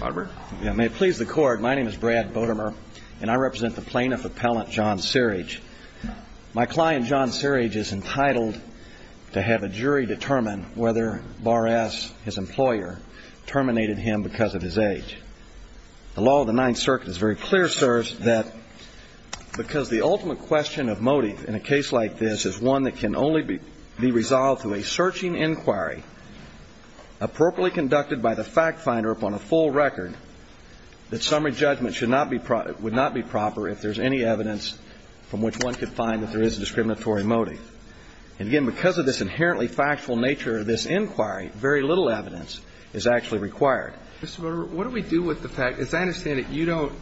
May it please the Court, my name is Brad Bodemer and I represent the plaintiff appellant John Sirridge. My client John Sirridge is entitled to have a jury determine whether Bar-S, his employer, terminated him because of his age. The law of the Ninth Circuit is very clear, sirs, that because the ultimate question of motive in a case like this is one that can only be resolved through a full record, that summary judgment should not be proper, would not be proper if there's any evidence from which one could find that there is a discriminatory motive. And again, because of this inherently factual nature of this inquiry, very little evidence is actually required. Mr. Bodemer, what do we do with the fact, as I understand it, you don't,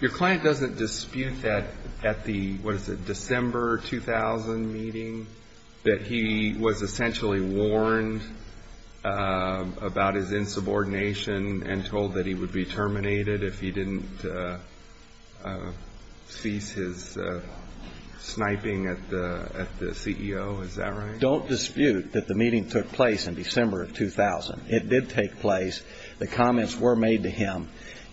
your client doesn't dispute that at the, what is it, December 2000 meeting that he was essentially warned about his subordination and told that he would be terminated if he didn't cease his sniping at the, at the CEO, is that right? Don't dispute that the meeting took place in December of 2000. It did take place. The comments were made to him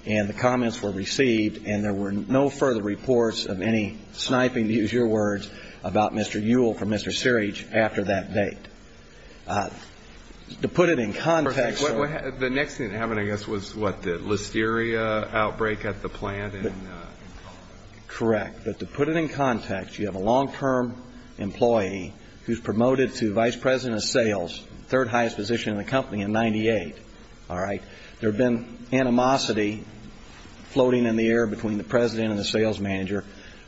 and the comments were received and there were no further reports of any sniping, to use your words, about Mr. Ewell from Mr. Sirridge after that date. To put it in context, you have a long-term employee who's promoted to vice president of sales, third highest position in the company in 98, all right? There have been animosity floating in the air between the president and the sales manager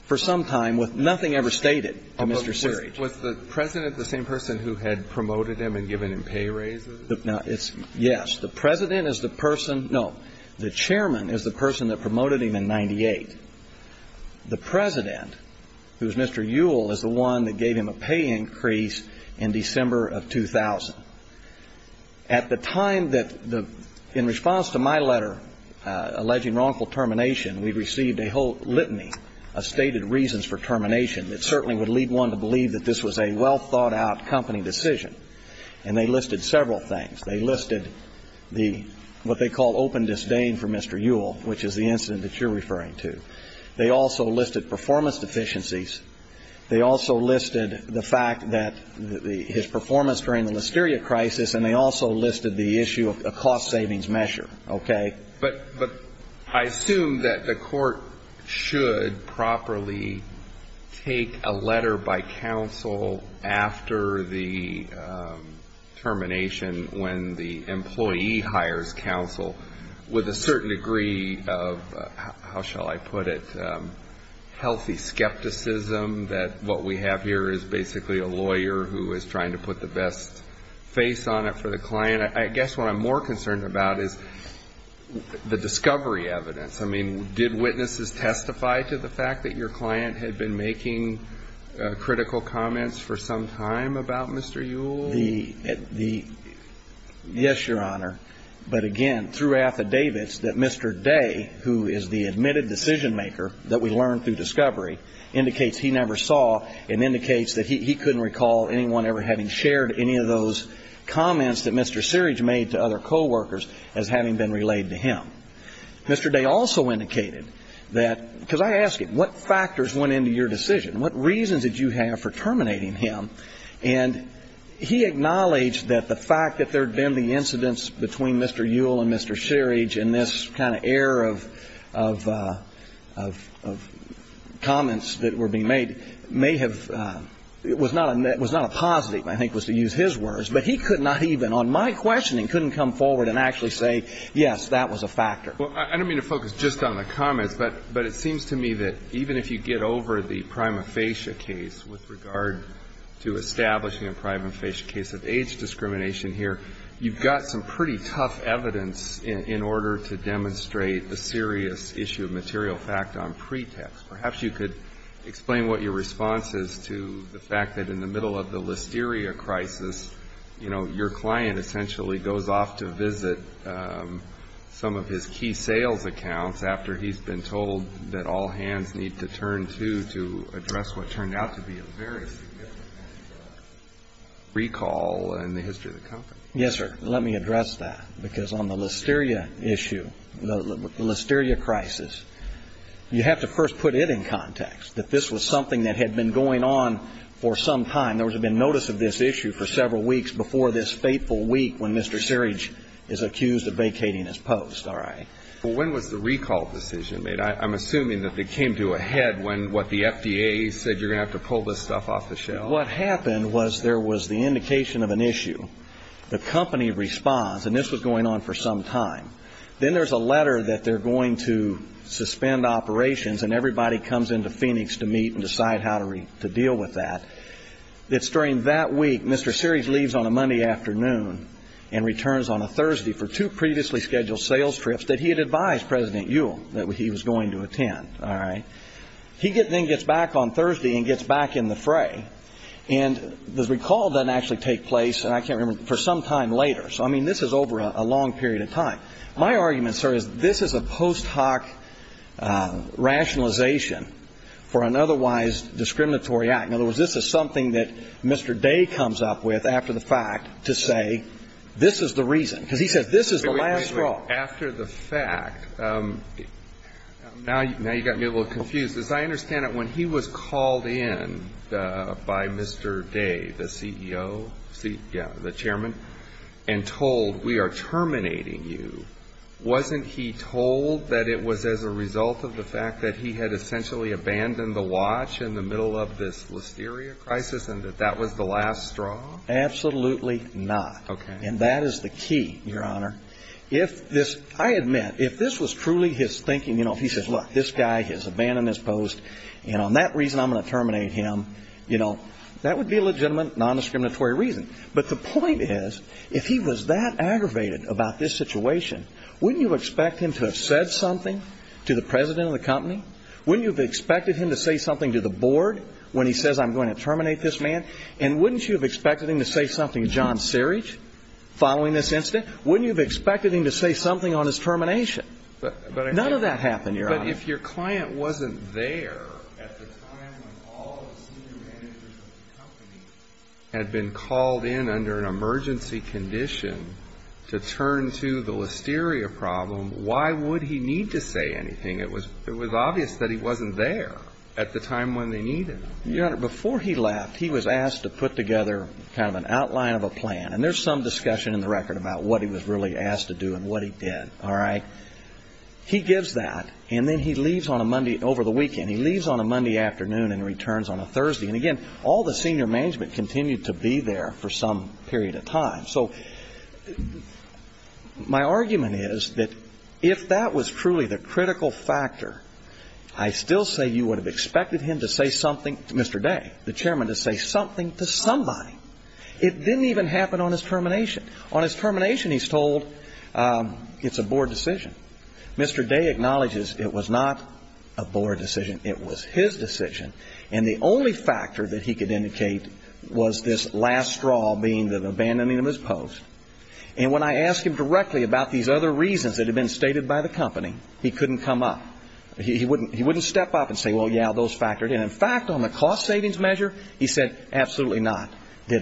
for some time with nothing ever stated to Mr. Sirridge. Was the president the same person who had promoted him and given him pay raises? No, it's, yes, the president. The president is the person, no, the chairman is the person that promoted him in 98. The president, who is Mr. Ewell, is the one that gave him a pay increase in December of 2000. At the time that the, in response to my letter alleging wrongful termination, we received a whole litany of stated reasons for termination that certainly would lead one to believe that this was a well-thought-out company decision. And they listed several things. They listed the, what they call open disdain for Mr. Ewell, which is the incident that you're referring to. They also listed performance deficiencies. They also listed the fact that his performance during the Listeria crisis, and they also listed the issue of a cost savings measure, okay? But I assume that the court should properly take a letter by counsel after the termination when the employee hires counsel with a certain degree of, how shall I put it, healthy skepticism that what we have here is basically a lawyer who is trying to put the best face on it for the client. I guess what I'm more concerned about is the discovery evidence. I mean, did witnesses testify to the fact that your client had been making critical comments for some time about Mr. Ewell? Yes, Your Honor. But again, through affidavits that Mr. Day, who is the admitted decision maker that we learned through discovery, indicates he never saw and indicates that he couldn't recall anyone ever having shared any of those comments that Mr. Seerage made to other coworkers as having been relayed to him. Mr. Day also indicated that, because I ask you, what factors went into your decision? What reasons did you have for terminating him? And he acknowledged that the fact that there had been the incidents between Mr. Ewell and Mr. Seerage and this kind of air of comments that were being made may have been, was not a positive, I think was to use his words. But he could not even, on my questioning, couldn't come forward and actually say, yes, that was a factor. Well, I don't mean to focus just on the comments, but it seems to me that even if you get over the prima facie case with regard to establishing a prima facie case of age discrimination here, you've got some pretty tough evidence in order to demonstrate a serious issue of material fact on pretext. Perhaps you could explain what your response is to the fact that in the middle of the Listeria crisis, you know, your client essentially goes off to visit some of his key sales accounts after he's been told that all hands need to turn to to address what turned out to be a very significant recall in the history of the company. Yes, sir. Let me address that. Because on the Listeria issue, the Listeria crisis, you have to first put it in context, that this was something that had been going on for some time. There had been notice of this issue for several weeks before this fateful week when Mr. Sirage is accused of vacating his post. All right. Well, when was the recall decision made? I'm assuming that they came to a head when what the FDA said, you're going to have to pull this stuff off the shelf. What happened was there was the indication of an issue. The company responds, and this was going on for some time. Then there's a letter that they're going to suspend operations and everybody comes into Phoenix to meet and decide how to deal with that. It's during that week, Mr. Sirage leaves on a Monday afternoon and returns on a Thursday for two previously scheduled sales trips that he had advised President Ewell that he was going to attend. All right. He then gets back on Thursday and gets back in the fray. And the recall doesn't actually take place, and I can't remember, for some time later. So, I mean, this is over a long period of time. My argument, sir, is this is a post hoc rationalization for an otherwise discriminatory act. In other words, this is something that Mr. Day comes up with after the fact to say this is the reason, because he says this is the last straw. Wait a minute. After the fact, now you got me a little confused. As I understand it, when he was called in by Mr. Day, the CEO, the chairman, and told we are terminating you, wasn't he told that it was as a result of the fact that he had essentially abandoned the watch in the middle of this listeria crisis and that that was the last straw? Absolutely not. Okay. And that is the key, Your Honor. If this, I admit, if this was truly his thinking, you know, if he says, look, this guy has abandoned this post, and on that reason I'm going to terminate him, you know, that would be a legitimate non-discriminatory reason. But the point is, if he was that aggravated about this situation, wouldn't you expect him to have said something to the president of the company? Wouldn't you have expected him to say something to the board when he says I'm going to terminate this man? And wouldn't you have expected him to say something to John Searich following this incident? Wouldn't you have expected him to say something on his termination? None of that happened, Your Honor. But if your client wasn't there at the time when all the senior managers of the company had been called in under an emergency condition to turn to the listeria problem, why would he need to say anything? It was obvious that he wasn't there at the time when they needed him. Your Honor, before he left, he was asked to put together kind of an outline of a plan. And there's some discussion in the record about what he was really asked to do and what he did. All right? He gives that, and then he leaves on a Monday over the weekend. He leaves on a Monday afternoon and returns on a Thursday. And again, all the senior management continued to be there for some period of time. So my argument is that if that was truly the critical factor, I still say you would have expected him to say something to Mr. Day, the chairman, to say something to somebody. It didn't even happen on his termination. On his termination, he's told it's a board decision. Mr. Day acknowledges it was not a board decision. It was his decision. And the only factor that he could indicate was this last straw being the abandoning of his post. And when I asked him directly about these other reasons that had been stated by the company, he couldn't come up. He wouldn't step up and say, well, yeah, those reasons did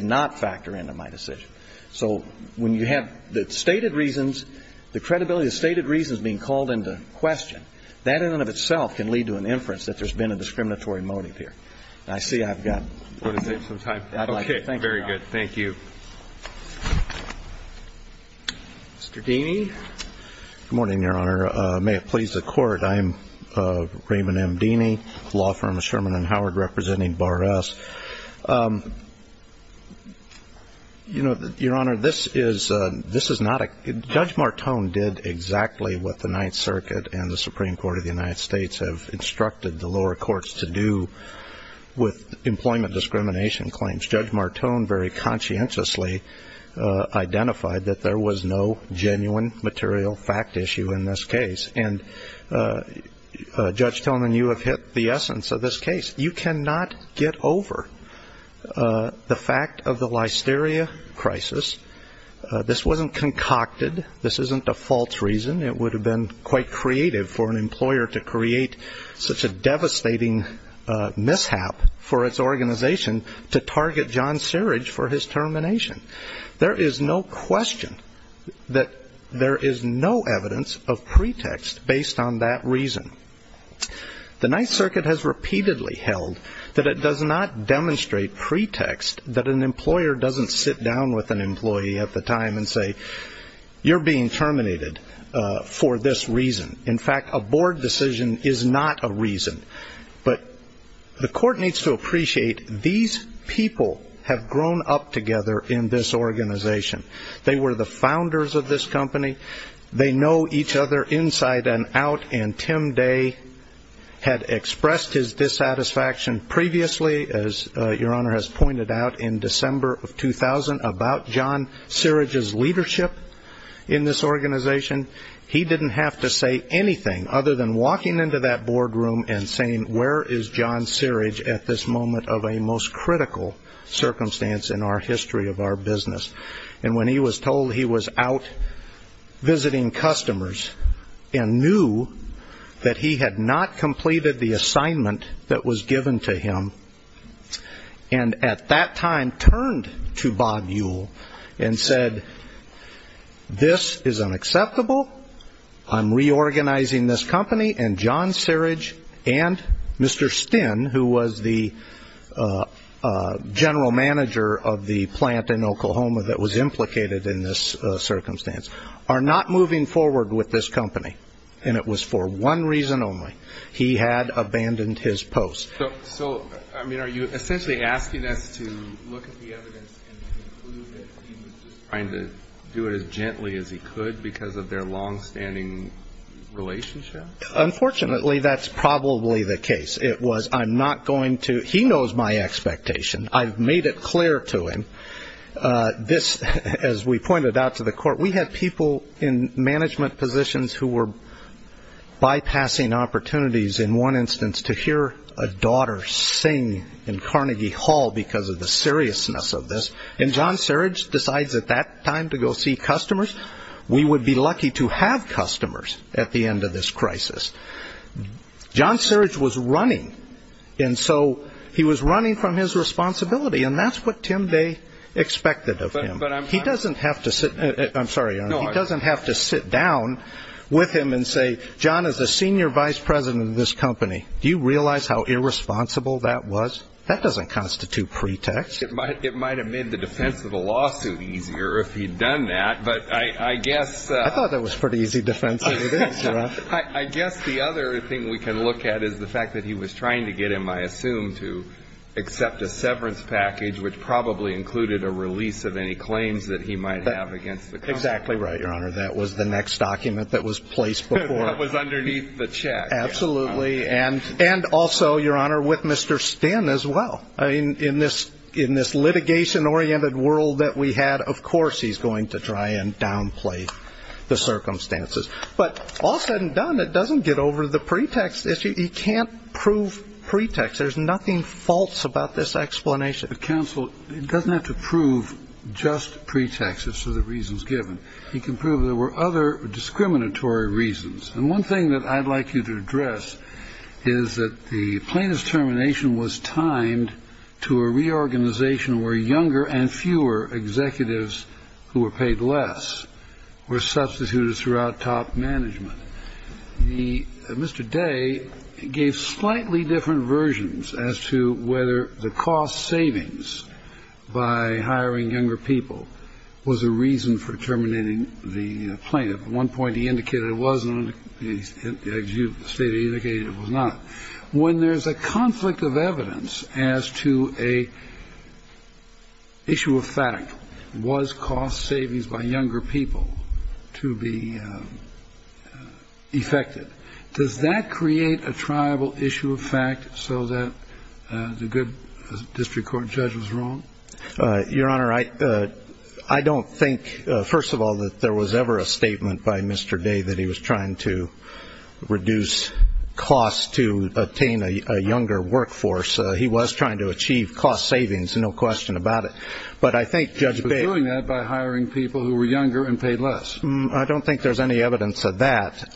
not factor into my decision. So when you have the stated reasons, the credibility of the stated reasons being called into question, that in and of itself can lead to an inference that there's been a discriminatory motive here. And I see I've got... I want to save some time. I'd like to thank you, Your Honor. Okay. Very good. Thank you. Mr. Deany. Good morning, Your Honor. May it please the Court, I am Raymond M. Deany, law firm of the United States. You know, Your Honor, this is not a... Judge Martone did exactly what the Ninth Circuit and the Supreme Court of the United States have instructed the lower courts to do with employment discrimination claims. Judge Martone very conscientiously identified that there was no genuine material fact issue in this case. And, Judge Tillman, you have hit the essence of this case. You cannot get over the fact that the Supreme Court of the United States has repeatedly held that there is no evidence of pretext based on that reason. The Ninth Circuit has repeatedly held that it does not demonstrate pretext that an employer doesn't sit down with an employee at the time and say, you're being terminated for this reason. In fact, a board decision is not a reason. But the Court needs to appreciate these people have grown up together in this organization. They were the founders of this company. They know each other inside and out. And Tim Day had expressed his dissatisfaction previously, as Your Honor has pointed out, in December of 2000 about John Siridge's leadership in this organization. He didn't have to say anything other than walking into that boardroom and saying, where is John Siridge at this moment of a most critical circumstance in our history of our business? And when he was told he was out visiting customers and knew that he had not completed the assignment that was given to him, and at that time turned to Bob Ewell and said, this is unacceptable. I'm reorganizing this company. And John Siridge and Mr. Stinn, who was the general manager of the plant in that circumstance, are not moving forward with this company. And it was for one reason only. He had abandoned his post. So, I mean, are you essentially asking us to look at the evidence and conclude that he was just trying to do it as gently as he could because of their longstanding relationship? Unfortunately, that's probably the case. It was, I'm not going to he knows my expectation. I've made it clear to him. This, as we pointed out to the court, we had people in management positions who were bypassing opportunities, in one instance, to hear a daughter sing in Carnegie Hall because of the seriousness of this. And John Siridge decides at that time to go see customers. We would be lucky to have customers at the end of this crisis. John Siridge was running. And so he was running from his responsibility. And that's what Tim Day expected of him. He doesn't have to sit down with him and say, John, as a senior vice president of this company, do you realize how irresponsible that was? That doesn't constitute pretext. It might have made the defense of the lawsuit easier if he'd done that. But I guess I thought that was pretty easy defense. I guess the other thing we can look at is the fact that he was trying to get him, I assume, to accept a severance package, which probably included a release of any claims that he might have against the company. Exactly right, Your Honor. That was the next document that was placed before. That was underneath the check. Absolutely. And also, Your Honor, with Mr. Stinn as well. In this litigation-oriented world that we had, of course, he's going to try and downplay the circumstances. But all said and done, it doesn't get over the pretext issue. He can't prove pretext. There's nothing false about this explanation. Counsel, he doesn't have to prove just pretext as to the reasons given. He can prove there were other discriminatory reasons. And one of the reasons is that he was trying to get him to accept a severance package. One thing that I'd like you to address is that the plaintiff's termination was timed to a reorganization where younger and fewer executives who were paid less were substituted throughout top management. Mr. Day gave slightly different versions as to whether the cost savings by hiring younger people was a reason for terminating the plaintiff. At one point he indicated it wasn't. As you stated, he indicated it was not. When there's a conflict of evidence as to an issue of fact, was cost savings by younger people to be effected, does that create a triable issue of fact so that the good district court judge was wrong? Your Honor, I don't think, first of all, that there was ever a statement by Mr. Day that he was trying to reduce costs to obtain a younger workforce. He was trying to achieve cost savings, no question about it. But I think Judge Baker... He was doing that by hiring people who were younger and paid less. I don't think there's any evidence of that.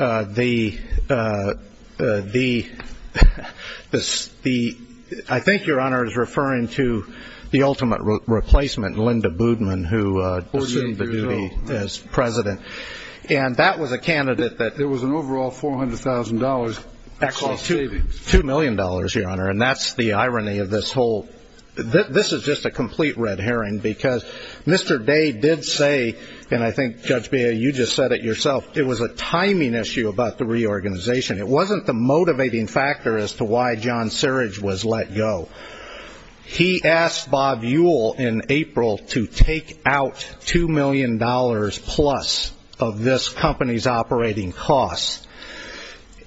I think, Your Honor, he's referring to the ultimate replacement, Linda Boodman, who assumed the duty as president. And that was a candidate that... There was an overall $400,000 cost savings. $2 million, Your Honor, and that's the irony of this whole... This is just a complete red herring, because Mr. Day did say, and I think, Judge Beha, you just said it yourself, it was a timing issue about the reorganization. It wasn't the motivating factor as to why John Syridge was let go. He asked Bob Ewell in April to take out $2 million-plus of this company's operating costs.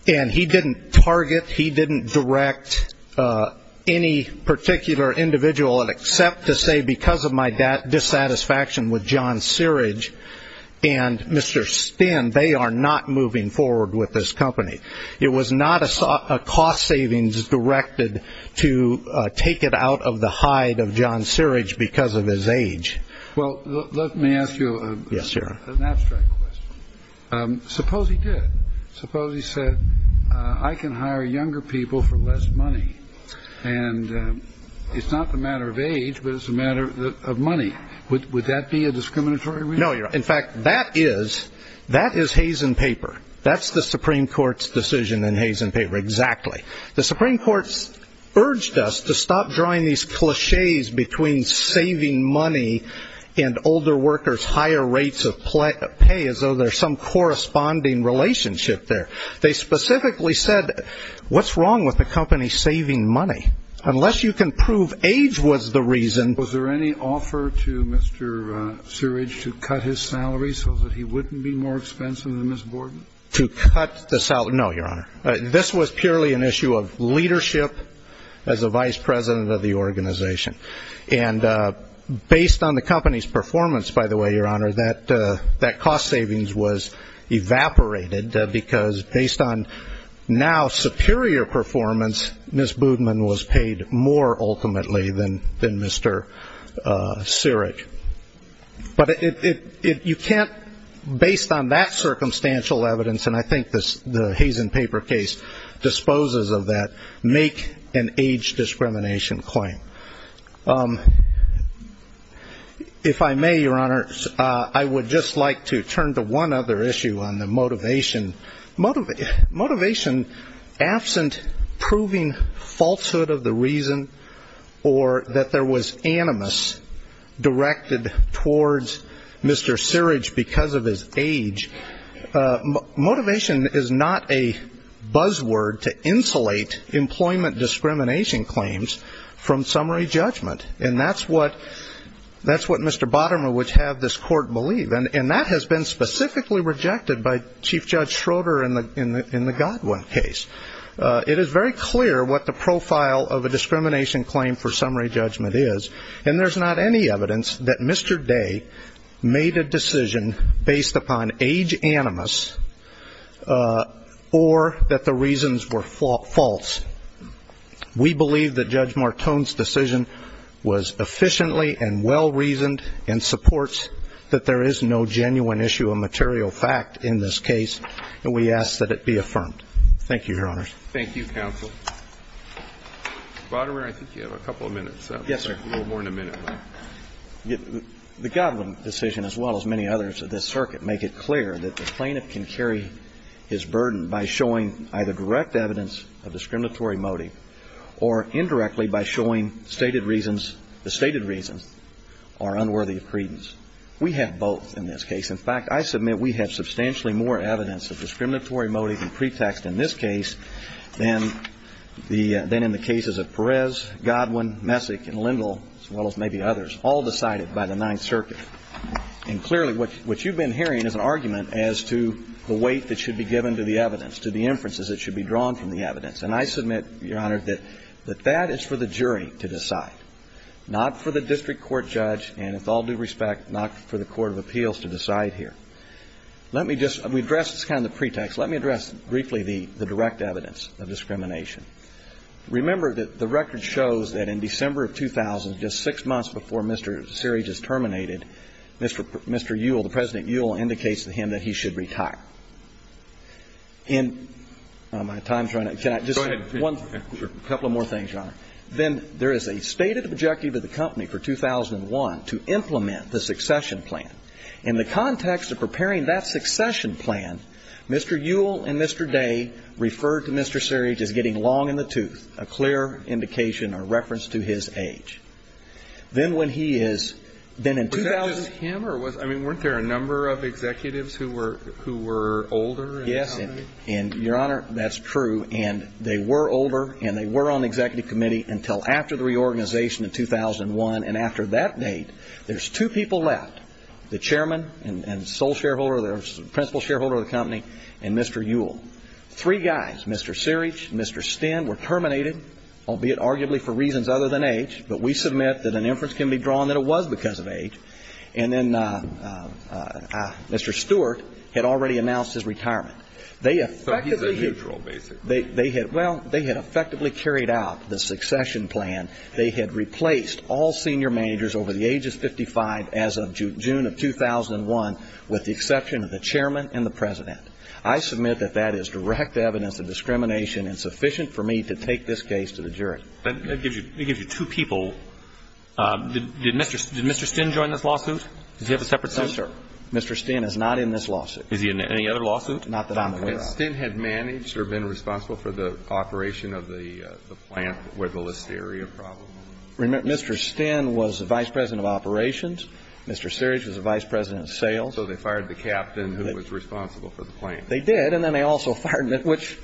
And he didn't target, he didn't direct any particular individual except to say, because of my dissatisfaction with John Syridge and Mr. Stin, they are not moving forward with this company. It was not a cost savings directed to take it out of the hide of John Syridge because of his age. Well, let me ask you an abstract question. Suppose he did. Suppose he said, I can hire younger people for less money. And it's not the matter of age, but it's a matter of money. Would that be a discriminatory reason? No, Your Honor. There's some corresponding relationship there. They specifically said, what's wrong with the company saving money? Unless you can prove age was the reason. Was there any offer to Mr. Syridge to cut his salary so that he wouldn't be more expensive than Ms. Borden? To cut the salary? No, Your Honor. This was purely an issue of leadership as a vice president of the organization. And based on the company's performance, by the way, Your Honor, that cost savings was evaporated because based on now superior performance, Ms. Boodman was paid more ultimately than Mr. Syridge. But you can't, based on that circumstantial evidence, and I think the Hazen paper case disposes of that, make an age discrimination claim. If I may, Your Honor, I would just like to turn to one other issue on the motivation. Motivation absent proving falsehood of the reason or that there was animus directed towards Mr. Syridge because of his age. Motivation is not a buzzword to insulate employment discrimination claims from summary judgment. And that's what Mr. Bottomer would have this court believe. And that has been specifically rejected by Chief Judge Schroeder in the Godwin case. It is very clear what the profile of a discrimination claim for summary judgment is, and there's not any evidence that Mr. Day made a decision based upon age animus or that the reasons were false. We believe that Judge Martone's decision was efficiently and well-reasoned and supports that there is no genuine issue of material fact in this case, and we ask that it be affirmed. Thank you, Your Honors. Thank you, counsel. Mr. Bottomer, I think you have a couple of minutes. Yes, sir. A little more than a minute. The Godwin decision, as well as many others of this circuit, make it clear that the plaintiff can carry his burden by showing either direct evidence of discriminatory motive or indirectly by showing stated reasons. The stated reasons are unworthy of credence. We have both in this case. In fact, I submit we have substantially more evidence of discriminatory motive and pretext in this case than in the cases of Perez, Godwin, Messick, and Lindell, as well as maybe others, all decided by the Ninth Circuit. And clearly, what you've been hearing is an argument as to the weight that should be given to the evidence, to the inferences that should be drawn from the evidence. And I submit, Your Honor, that that is for the jury to decide, not for the district court judge, and with all due respect, not for the court of appeals to decide here. Let me just address this kind of pretext. Let me address briefly the direct evidence of discrimination. Remember that the record shows that in December of 2000, just six months before Mr. Seary just terminated, Mr. Ewell, President Ewell, indicates to him that he should retire. And my time is running out. Go ahead. A couple of more things, Your Honor. In the context of preparing the succession plan, then there is a stated objective of the company for 2001 to implement the succession plan. In the context of preparing that succession plan, Mr. Ewell and Mr. Day referred to Mr. Seary as getting long in the tooth, a clear indication or reference to his age. Then when he is then in 2000 ---- Was that with him or was ñ I mean, weren't there a number of executives who were older in the company? And, Your Honor, that's true. And they were older and they were on the executive committee until after the reorganization in 2001. And after that date, there's two people left, the chairman and sole shareholder, the principal shareholder of the company, and Mr. Ewell. Three guys, Mr. Seary, Mr. Stinn, were terminated, albeit arguably for reasons other than age. But we submit that an inference can be drawn that it was because of age. And then Mr. Stewart had already announced his retirement. They effectively ñ So he's a neutral, basically. They had ñ well, they had effectively carried out the succession plan. They had replaced all senior managers over the age of 55 as of June of 2001, with the exception of the chairman and the president. I submit that that is direct evidence of discrimination and sufficient for me to take this case to the jury. That gives you two people. Did Mr. Stinn join this lawsuit? Does he have a separate suit? No, sir. Mr. Stinn is not in this lawsuit. Is he in any other lawsuit? Not that I'm aware of. Had Stinn managed or been responsible for the operation of the plant where the Listeria problem was? Remember, Mr. Stinn was the vice president of operations. Mr. Seary was the vice president of sales. So they fired the captain who was responsible for the plant. They did, and then they also fired ñ which,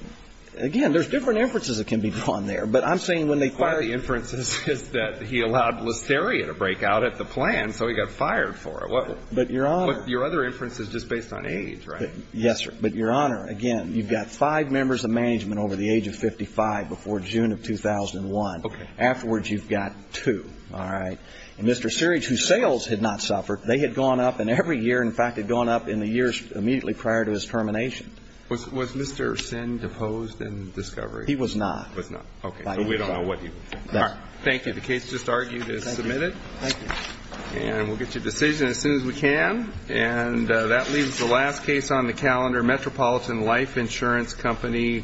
again, there's different inferences that can be drawn there. But I'm saying when they fired ñ One of the inferences is that he allowed Listeria to break out at the plant, so he got fired for it. But, Your Honor ñ But your other inference is just based on age, right? Yes, sir. But, Your Honor, again, you've got five members of management over the age of 55 before June of 2001. Okay. Afterwards, you've got two. All right? And Mr. Seary, whose sales had not suffered, they had gone up, and every year, in fact, had gone up in the years immediately prior to his termination. Was Mr. Stinn deposed in discovery? He was not. He was not. Okay. So we don't know what he was doing. All right. Thank you. The case just argued is submitted. Thank you. And we'll get your decision as soon as we can. And that leaves the last case on the calendar, Metropolitan Life Insurance Company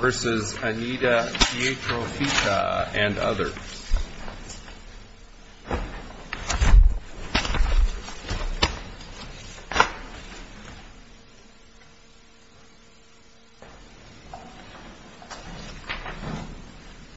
v. Anita Pietrofita and others.